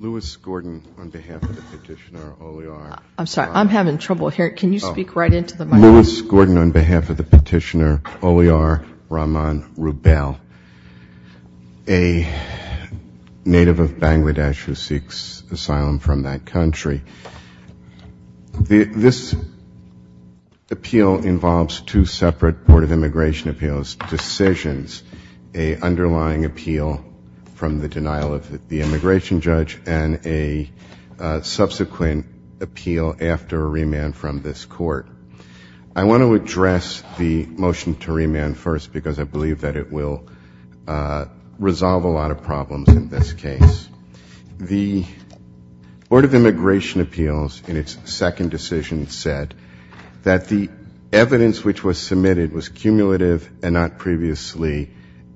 Lewis Gordon on behalf of the petitioner Oliur Rahman Rubel, a native of Bangladesh who seeks asylum from that country. This appeal involves two separate Board of Immigration Appeals decisions, an underlying appeal from the denial of the immigration judge and a subsequent appeal after a remand from this court. I want to address the motion to remand first because I believe that it will resolve a lot of problems in this case. The Board of Immigration Appeals in its second decision said that the evidence which was submitted was cumulative and not previously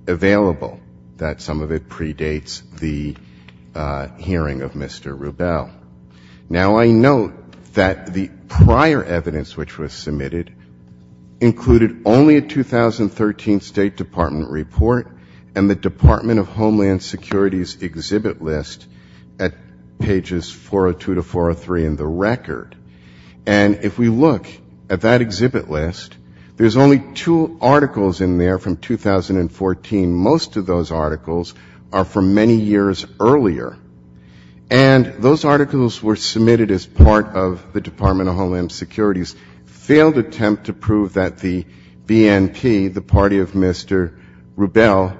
available, that some of it predates the hearing of Mr. Rubel. Now, I note that the prior evidence which was submitted included only a 2013 State Department report and the Department of Homeland Security's exhibit list at pages 402 to 403 in the record. And if we look at that exhibit list, there's only two articles in there from 2014. Most of those articles are from many years earlier. And those articles were submitted as part of the Department of Homeland Security's failed attempt to prove that the BNP, the party of Mr. Rubel,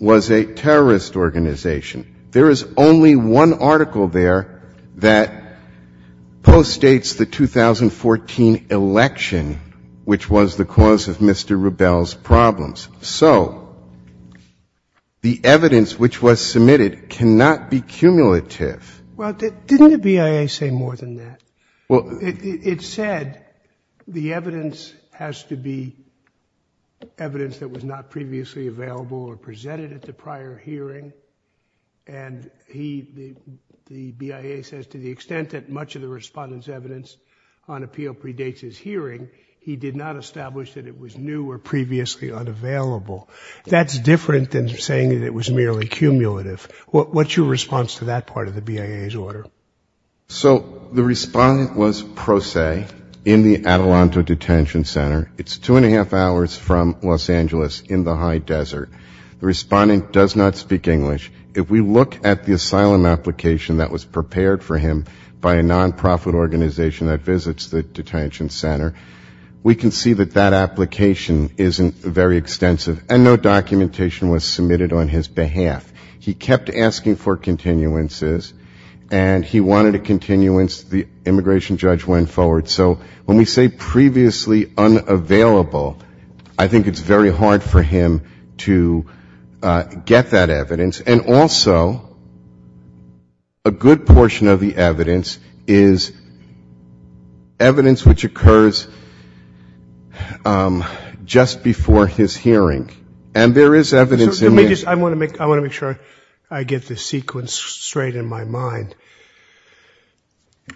was a terrorist organization. There is only one article there that postdates the 2014 election, which was the cause of Mr. Rubel's problems. So the evidence which was submitted cannot be cumulative. Well, didn't the BIA say more than that? It said the evidence has to be evidence that was not previously available or presented at the prior hearing. And he, the BIA, says to the extent that much of the Respondent's evidence on appeal predates his hearing, he did not establish that it was new or previously unavailable. That's different than saying that it was merely cumulative. What's your response to that part of the BIA's order? So the Respondent was pro se in the Adelanto Detention Center. It's two and a half hours from Los Angeles in the high desert. The Respondent does not speak English. If we look at the asylum application that was prepared for him by a nonprofit organization that visits the detention center, we can see that that application isn't very extensive, and no documentation was submitted on his behalf. He kept asking for continuances, and he wanted a continuance. The immigration judge went forward. So when we say previously unavailable, I think it's very hard for him to get that evidence. And also, a good portion of the evidence is evidence which occurs just before his hearing. And there is evidence in this. I want to make sure I get this sequence straight in my mind.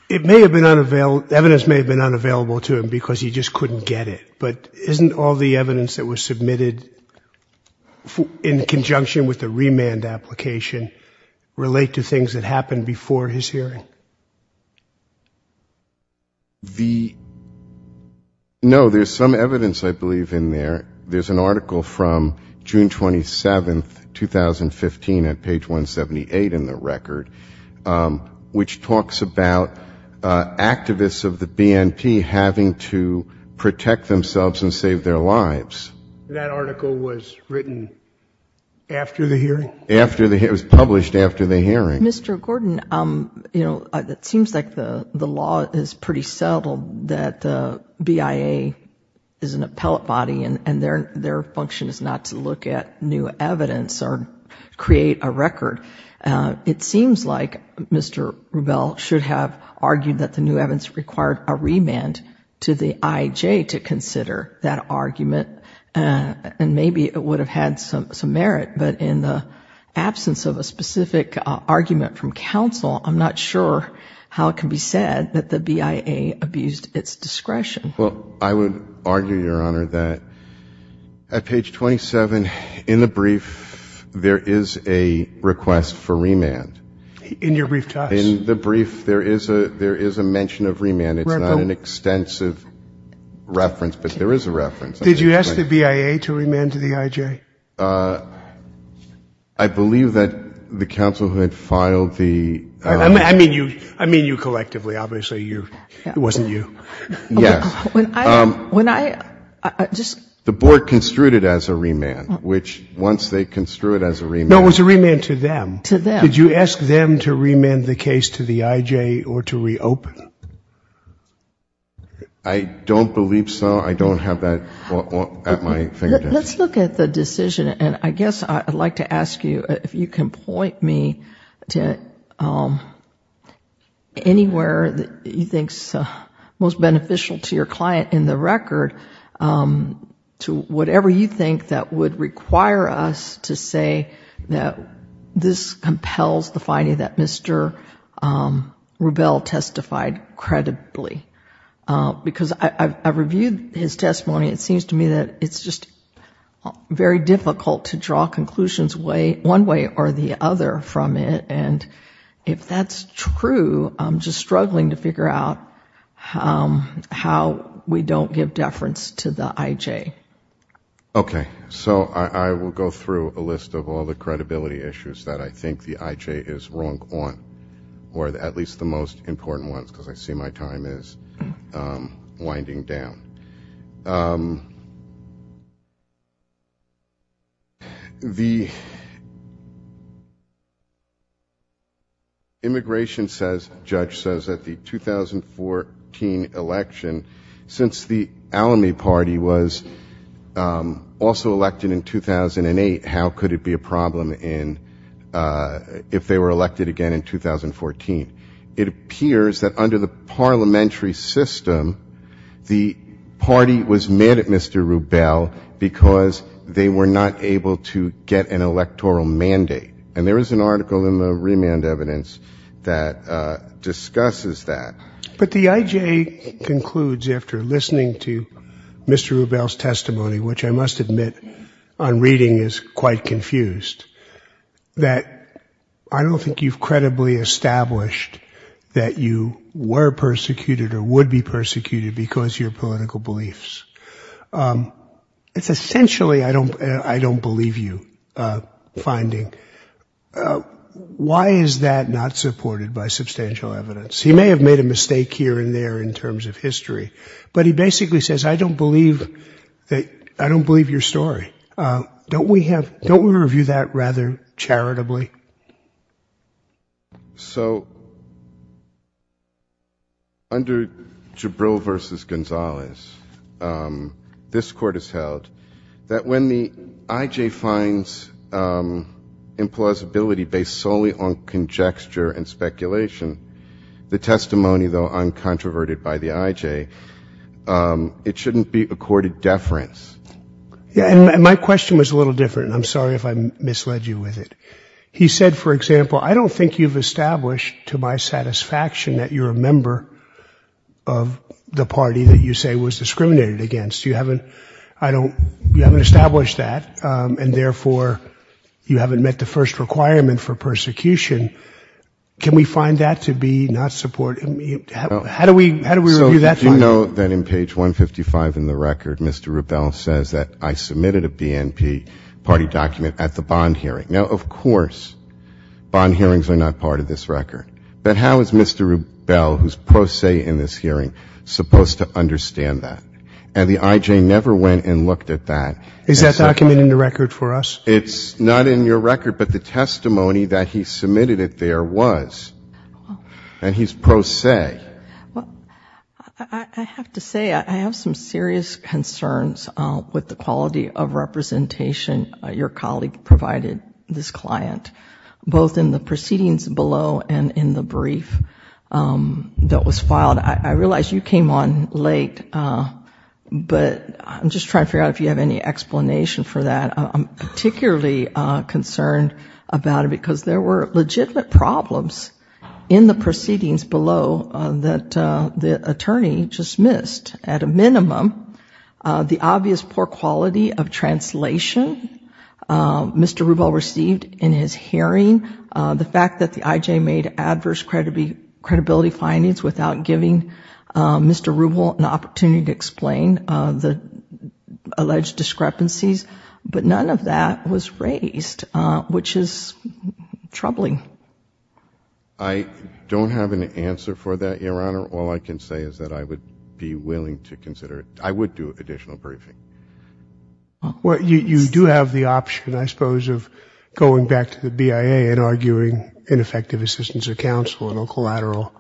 It may have been unavailable, evidence may have been unavailable to him because he just couldn't get it. But isn't all the evidence that was submitted in conjunction with the remand application relate to things that happened before his hearing? No, there's some evidence, I believe, in there. There's an article from June 27, 2015, at page 178 in the record, which talks about activists of the BNP having to protect themselves and save their lives. That article was written after the hearing? It was published after the hearing. I'm not sure how it can be said that the BIA abused its discretion. Well, I would argue, Your Honor, that at page 27, in the brief, there is a request for remand. In your brief to us? In the brief, there is a mention of remand. It's not an extensive reference, but there is a reference. Did you ask the BIA to remand to the IJ? I believe that the counsel who had filed the... I mean you collectively, obviously. It wasn't you. Yes. The board construed it as a remand, which once they construed it as a remand... No, it was a remand to them. Did you ask them to remand the case to the IJ or to reopen? I don't believe so. I don't have that at my fingertips. Let's look at the decision, and I guess I'd like to ask you if you can point me to anywhere that you think is most beneficial to your client in the record. To whatever you think that would require us to say that this case would be remanded. It just compels the finding that Mr. Rubel testified credibly. Because I reviewed his testimony. It seems to me that it's just very difficult to draw conclusions one way or the other from it. If that's true, I'm just struggling to figure out how we don't give deference to the IJ. Okay. So I will go through a list of all the credibility issues that I think the IJ is wrong on, or at least the most important ones, because I see my time is winding down. The immigration judge says that the 2014 election, since the Alamy party was in the lead, also elected in 2008, how could it be a problem if they were elected again in 2014? It appears that under the parliamentary system, the party was mad at Mr. Rubel because they were not able to get an electoral mandate. And there is an article in the remand evidence that discusses that. But the IJ concludes, after listening to Mr. Rubel's testimony, which I must admit on reading is quite confused, that I don't think you've credibly established that you were persecuted or would be persecuted because of your political beliefs. It's essentially a I don't believe you finding. Why is that not supported by substantial evidence? He may have made a mistake here and there in terms of history, but he basically says, I don't believe your story. Don't we review that rather charitably? So under Jabril v. Gonzalez, this Court has held that when the IJ finds a person who is a supporter of the IJ, there is an implausibility based solely on conjecture and speculation. The testimony, though, uncontroverted by the IJ, it shouldn't be accorded deference. And my question was a little different, and I'm sorry if I misled you with it. He said, for example, I don't think you've established to my satisfaction that you're a member of the party that you say was discriminated against. You haven't, I don't, you haven't established that, and therefore you haven't met the first requirement for persecution. Can we find that to be not supported? How do we review that? So if you note that in page 155 in the record, Mr. Rubel says that I submitted a BNP party document at the bond hearing. Now, of course, bond hearings are not part of this record. But how is Mr. Rubel, who's pro se in this hearing, supposed to understand that? And the IJ never went and looked at that. Is that document in the record for us? It's not in your record, but the testimony that he submitted it there was, and he's pro se. Well, I have to say, I have some serious concerns with the quality of representation your colleague provided this client, both in the proceedings below and in the brief that was filed. I realize you came on late, but I'm just trying to figure out if you have any explanation for that. I'm particularly concerned about it, because there were legitimate problems in the proceedings below that the attorney just missed. At a minimum, the obvious poor quality of translation Mr. Rubel received in his hearing, the fact that the IJ made adverse credibility findings without giving Mr. Rubel an opportunity to explain the alleged discrepancies, but none of that was raised, which is troubling. I don't have an answer for that, Your Honor. All I can say is that I would be willing to consider it. I would do additional briefing. You do have the option, I suppose, of going back to the BIA and arguing ineffective assistance of counsel in a collateral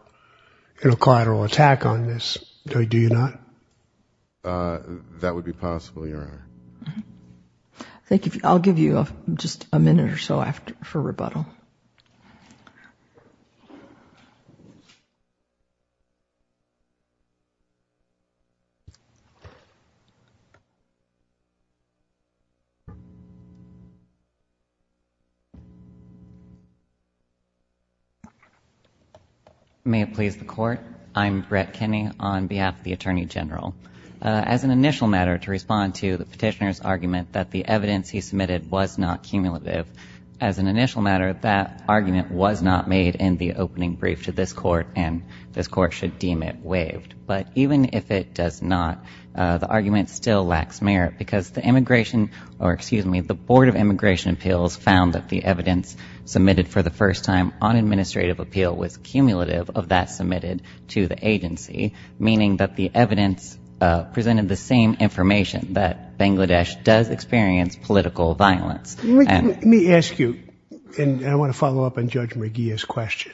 attack on this. Do you not? That would be possible, Your Honor. Thank you. I'll give you just a minute or so for rebuttal. May it please the Court. I'm Brett Kinney on behalf of the Attorney General. As an initial matter, to respond to the petitioner's argument that the evidence he submitted was not cumulative, the argument was not made in the opening brief to this Court, and this Court should deem it waived. But even if it does not, the argument still lacks merit, because the immigration or, excuse me, the Board of Immigration Appeals found that the evidence submitted for the first time on administrative appeal was cumulative of that submitted to the agency, meaning that the evidence presented the same information, that Bangladesh does experience political violence. Let me ask you, and I want to follow up on Judge McGeeh's question.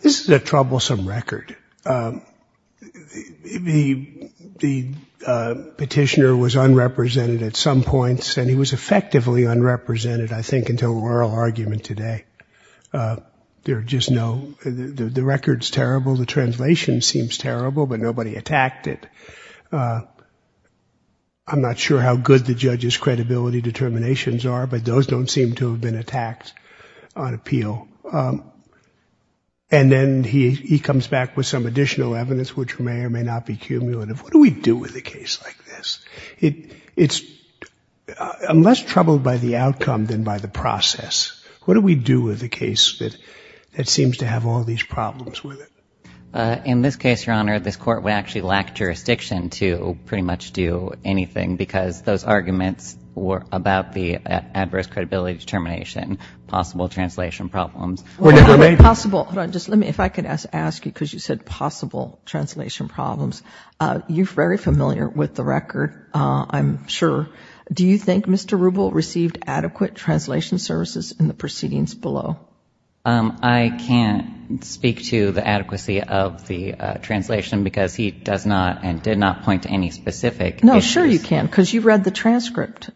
This is a troublesome record. The petitioner was unrepresented at some points, and he was effectively unrepresented, I think, until oral argument today. There are just no, the record's terrible, the translation seems terrible, but nobody attacked it. I'm not sure how good the judge's credibility determinations are, but those don't seem to have been attacked on appeal. And then he comes back with some additional evidence which may or may not be cumulative. What do we do with a case like this? I'm less troubled by the outcome than by the process. What do we do with a case that seems to have all these problems with it? I don't seem to pretty much do anything, because those arguments were about the adverse credibility determination, possible translation problems. If I could ask you, because you said possible translation problems. You're very familiar with the record, I'm sure. Do you think Mr. Rubel received adequate translation services in the proceedings below? I can't speak to the adequacy of the translation, because he does not and did not point to any specific issues. No, sure you can, because you've read the transcript.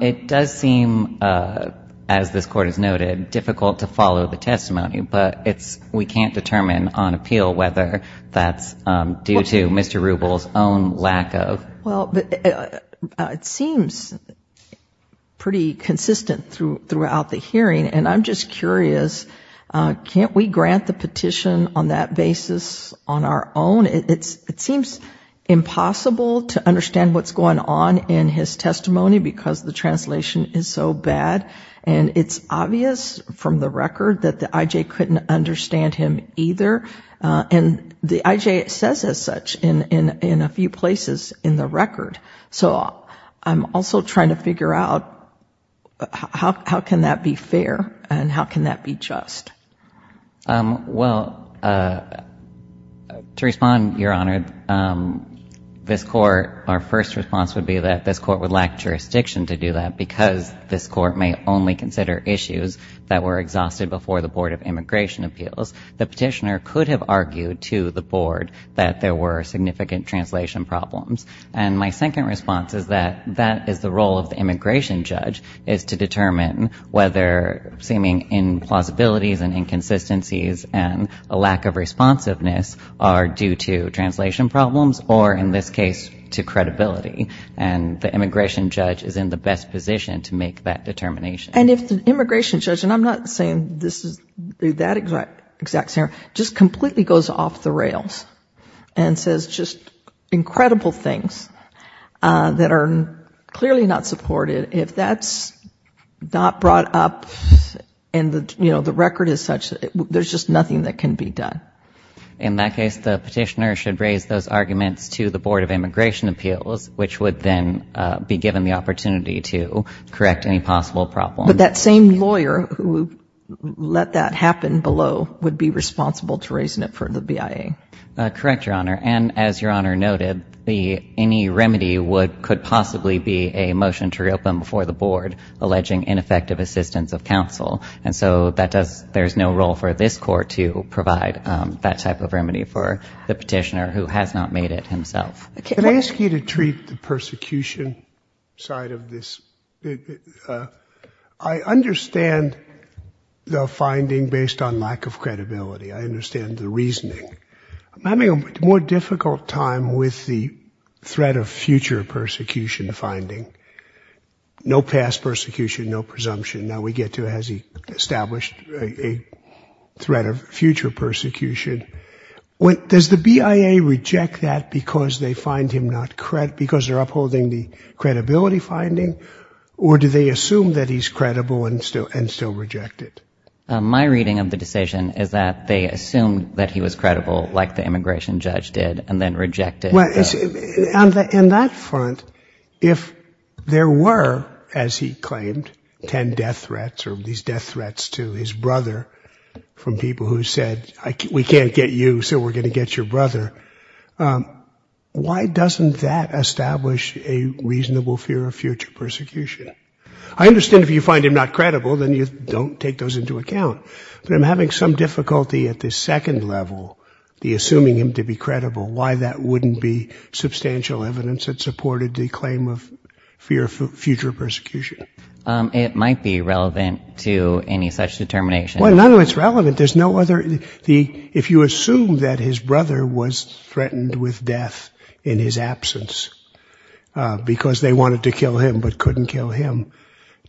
It does seem, as this Court has noted, difficult to follow the testimony, but we can't determine on appeal whether that's due to Mr. Rubel's own lack of. Well, it seems pretty consistent throughout the hearing. And I'm just curious, can't we grant the petition on that basis on our own? It seems impossible to understand what's going on in his testimony, because the translation is so bad. And it's obvious from the record that the IJ couldn't understand him either. And the IJ says as such in a few places in the record. So I'm also trying to figure out how can that be fair and how can that be just? Well, to respond, Your Honor, this Court, our first response would be that this Court would lack jurisdiction to do that, because this Court may only consider issues that were exhausted before the Board of Immigration Appeals. The petitioner could have argued to the Board that there were significant translation problems. And my second response is that that is the role of the immigration judge, is to determine whether seeming implausibilities and inconsistencies and a lack of responsiveness are due to translation problems or, in this case, to credibility. And the immigration judge is in the best position to make that determination. And if the immigration judge, and I'm not saying this is that exact scenario, just completely goes off the rails and says just incredible things that are clearly not supported. If that's not brought up and, you know, the record is such, there's just nothing that can be done. In that case, the petitioner should raise those arguments to the Board of Immigration Appeals, which would then be given the responsibility to the BIA. But that same lawyer who let that happen below would be responsible to raising it for the BIA. Correct, Your Honor. And as Your Honor noted, any remedy could possibly be a motion to reopen before the Board alleging ineffective assistance of counsel. And so there's no role for this Court to provide that type of remedy for the petitioner who has not made it himself. I understand the finding based on lack of credibility. I understand the reasoning. I'm having a more difficult time with the threat of future persecution finding. No past persecution, no presumption. Now we get to has he established a threat of future persecution. Does the BIA reject that because they find him not credible, because they're upholding the credibility finding? Or do they assume that he's credible and still reject it? My reading of the decision is that they assumed that he was credible, like the immigration judge did, and then rejected it. In that front, if there were, as he claimed, 10 death threats or these death threats to his brother from people who said, we can't get you, so we're going to get your brother, why doesn't that establish a reasonable fear of future persecution? I understand if you find him not credible, then you don't take those into account. But I'm having some difficulty at the second level, the assuming him to be credible, why that wouldn't be substantial evidence that supported the claim of fear of future persecution. It might be relevant to any such determination. None of it is relevant. If you assume that his brother was threatened with death in his absence, because they wanted to kill him but couldn't kill him,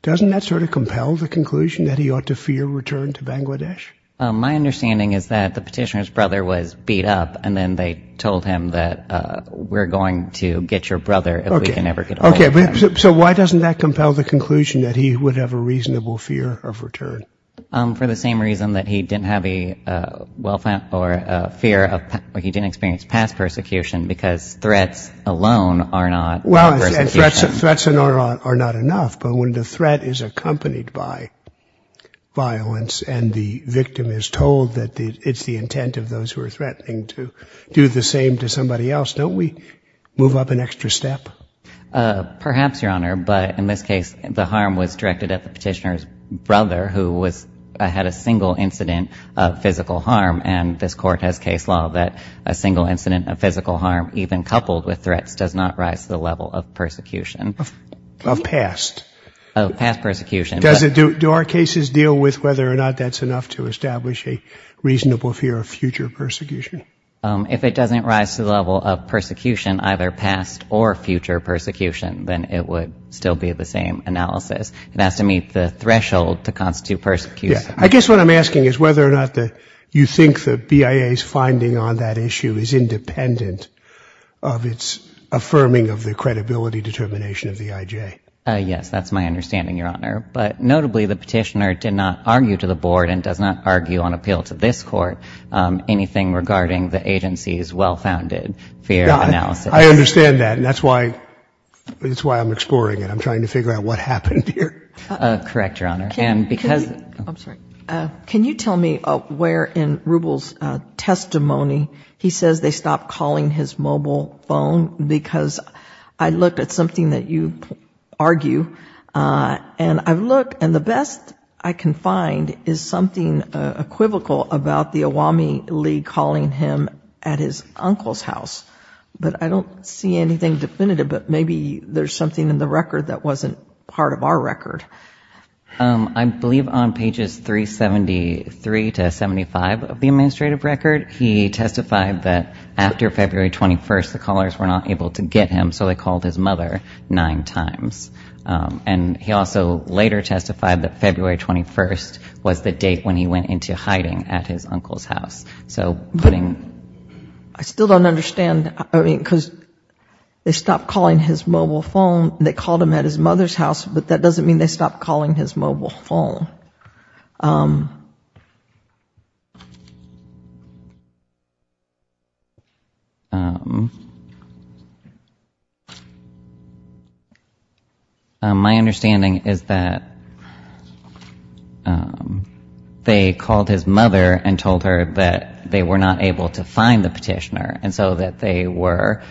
doesn't that sort of compel the conclusion that he ought to fear return to Bangladesh? My understanding is that the petitioner's brother was beat up, and then they told him that we're going to get your brother. So why doesn't that compel the conclusion that he would have a reasonable fear of return? For the same reason that he didn't have a fear, he didn't experience past persecution, because threats alone are not enough. But when the threat is accompanied by violence, and the victim is told that it's the intent of those who are threatening to do the same to somebody else, don't we move up an extra step? Perhaps, Your Honor, but in this case, the harm was directed at the petitioner's brother, who had a single incident of physical harm, and this Court has case law that a single incident of physical harm, even coupled with threats, does not rise to the level of persecution. Of past? Of past persecution. Do our cases deal with whether or not that's enough to establish a reasonable fear of future persecution? If it doesn't rise to the level of persecution, either past or future persecution, then it would still be the same analysis. It has to meet the threshold to constitute persecution. I guess what I'm asking is whether or not you think the BIA's finding on that issue is independent of its affirming of the credibility determination of the IJ. Yes, that's my understanding, Your Honor. But notably, the petitioner did not argue to the Board and does not argue on appeal to this Court anything regarding the agency's well-founded fear of analysis. I understand that, and that's why I'm exploring it. I'm trying to figure out what happened here. Correct, Your Honor. Can you tell me where in Rubel's testimony he says they stopped calling his mobile phone? Because I looked at something that you argue, and I've looked, and the best I can find is something equivocal about the Awami League calling him at his uncle's house. But I don't see anything definitive, but maybe there's something in the record that wasn't part of our record. I believe on pages 373 to 375 of the administrative record, he testified that after February 21st, the callers were not able to get him, so they called his mother nine times. And he also later testified that February 21st was the date when he went into hiding at his uncle's house. I still don't understand. I mean, because they stopped calling his mobile phone. They called him at his mother's house, but that doesn't mean they stopped calling his mobile phone. My understanding is that they called his mother and told her that they were not able to find the petitioner. And so that they were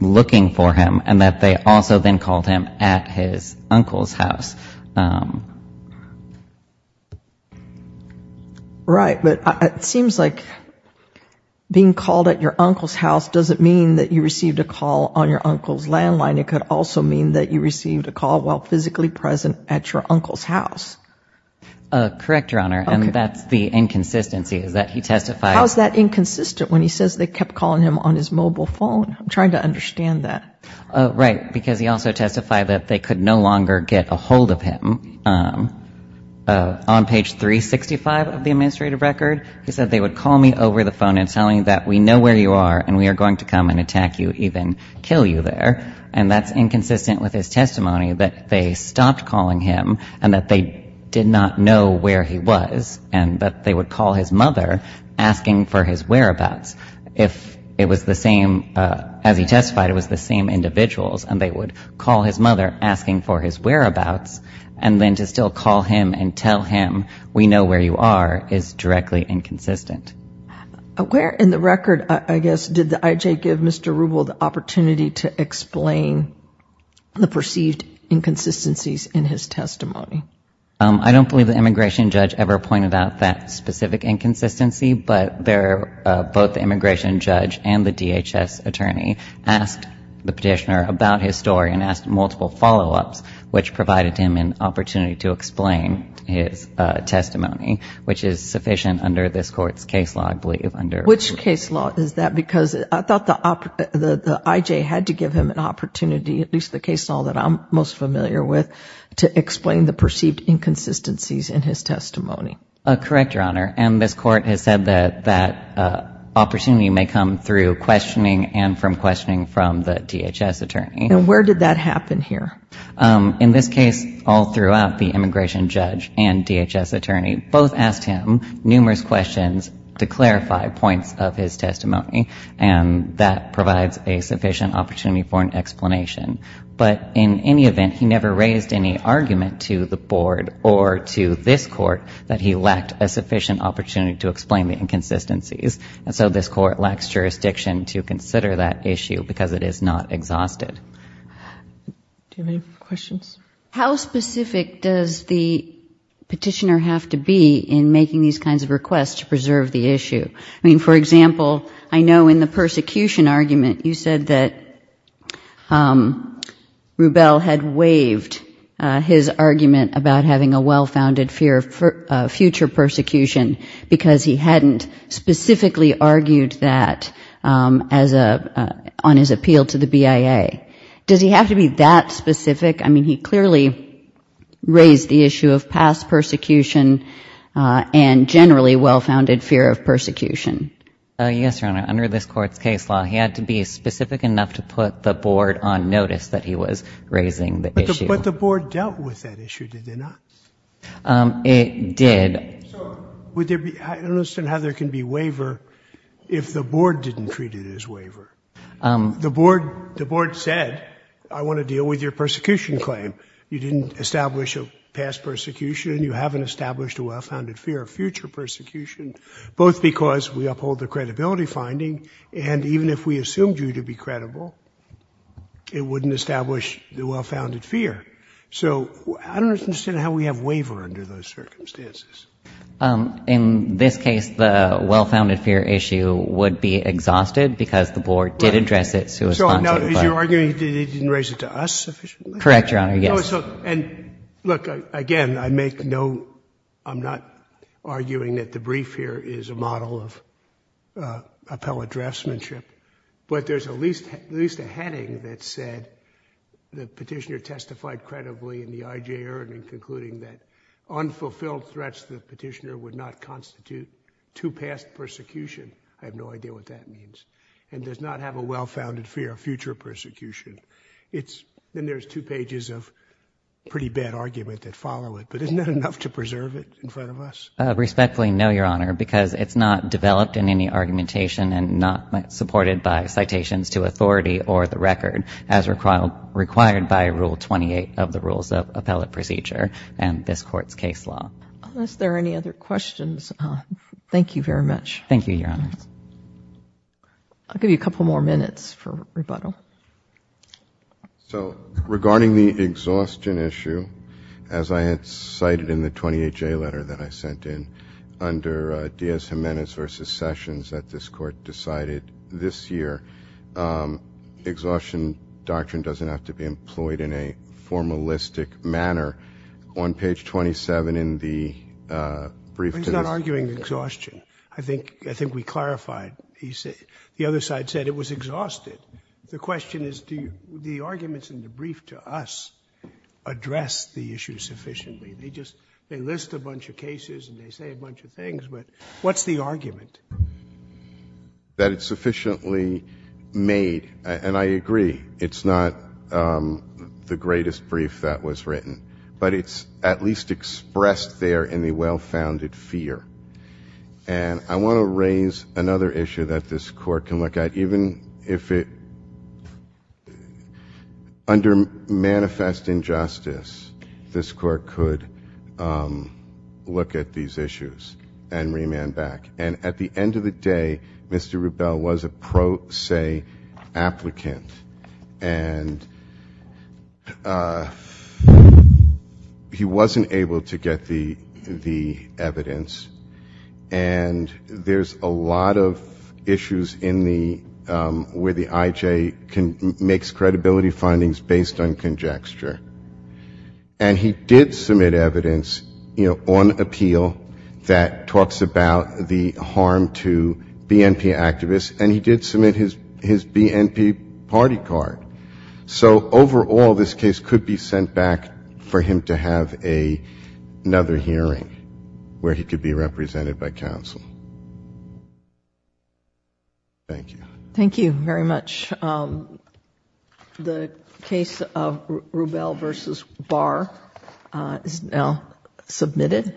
looking for him, and that they also then called him at his uncle's house. Right. But it seems like being called at your uncle's house doesn't mean that you received a call on your uncle's landline. It could also mean that you received a call while physically present at your uncle's house. Correct, Your Honor, and that's the inconsistency is that he testified. How is that inconsistent when he says they kept calling him on his mobile phone? I'm trying to understand that. Right, because he also testified that they could no longer get a hold of him. On page 365 of the administrative record, he said they would call me over the phone and tell me that we know where you are and we are going to come and attack you, even kill you there. And that's inconsistent with his testimony, that they stopped calling him and that they did not know where he was, and that they would call his mother asking for his whereabouts. If it was the same, as he testified, it was the same individuals, and they would call his mother asking for his whereabouts, and then to still call him and tell him we know where you are is directly inconsistent. Where in the record, I guess, did the IJ give Mr. Rubel the opportunity to explain the perceived inconsistencies in his testimony? I don't believe the immigration judge ever pointed out that specific inconsistency, but both the immigration judge and the DHS attorney asked the petitioner about his story and asked multiple follow-ups, which provided him an opportunity to explain his testimony, which is sufficient under this Court's case. Which case law is that? Because I thought the IJ had to give him an opportunity, at least the case law that I'm most familiar with, to explain the perceived inconsistencies in his testimony. Correct, Your Honor, and this Court has said that that opportunity may come through questioning and from questioning from the DHS attorney. And where did that happen here? In this case, all throughout, the immigration judge and DHS attorney both asked him numerous questions to clarify points of his testimony, and that provides a sufficient opportunity for an explanation. But in any event, he never raised any argument to the Board or to this Court that he lacked a sufficient opportunity to explain the inconsistencies, and so this Court lacks jurisdiction to consider that issue because it is not exhausted. How specific does the petitioner have to be in making these kinds of requests to preserve the issue? I mean, for example, I know in the persecution argument you said that Rubell had waived his argument about having a well-founded fear of future persecution because he hadn't specifically argued that on his appeal to the BIA. Does he have to be that specific? I mean, he clearly raised the issue of past persecution and generally well-founded fear of persecution. Yes, Your Honor, under this Court's case law, he had to be specific enough to put the Board on notice that he was raising the issue. But the Board dealt with that issue, did they not? It did. I don't understand how there can be waiver if the Board didn't treat it as waiver. The Board said, I want to deal with your persecution claim. You didn't establish a past persecution, you haven't established a well-founded fear of future persecution, both because we uphold the credibility finding, and even if we assumed you to be credible, it wouldn't establish the well-founded fear. So I don't understand how we have waiver under those circumstances. In this case, the well-founded fear issue would be exhausted because the Board did address it. So you're arguing that he didn't raise it to us sufficiently? Correct, Your Honor, yes. And look, again, I make no, I'm not arguing that the brief here is a model of appellate draftsmanship, but there's at least a heading that said the petitioner testified credibly in the IJ hearing, concluding that unfulfilled threats to the petitioner would not constitute too past persecution. I have no idea what that means. And does not have a well-founded fear of future persecution. Then there's two pages of pretty bad argument that follow it, but isn't that enough to preserve it in front of us? Respectfully, no, Your Honor, because it's not developed in any argumentation and not supported by citations to authority or the record as required by Rule 28 of the Rules of Appellate Procedure and this Court's case law. Unless there are any other questions, thank you very much. Thank you, Your Honor. I'll give you a couple more minutes for rebuttal. So, regarding the exhaustion issue, as I had cited in the 28-J letter that I sent in, under Diaz-Jimenez v. Sessions that this Court decided this year, exhaustion doctrine doesn't have to be employed in a formalistic manner. On page 27 in the brief to the... The question is, do the arguments in the brief to us address the issue sufficiently? They list a bunch of cases and they say a bunch of things, but what's the argument? That it's sufficiently made, and I agree, it's not the greatest brief that was written, but it's at least expressed there in the well-founded fear. And I want to raise another issue that this Court can look at, even if under manifest injustice this Court could look at these issues and remand back. And at the end of the day, Mr. Rubel was a pro se applicant, and he wasn't able to get the evidence, and there's a lot of issues where the IJ makes credibility findings based on conjecture. And he did submit evidence on appeal that talks about the harm to BNP activists, and he did submit his BNP party card. So overall, this case could be sent back for him to have another hearing where he could be represented by counsel. Thank you. Thank you very much.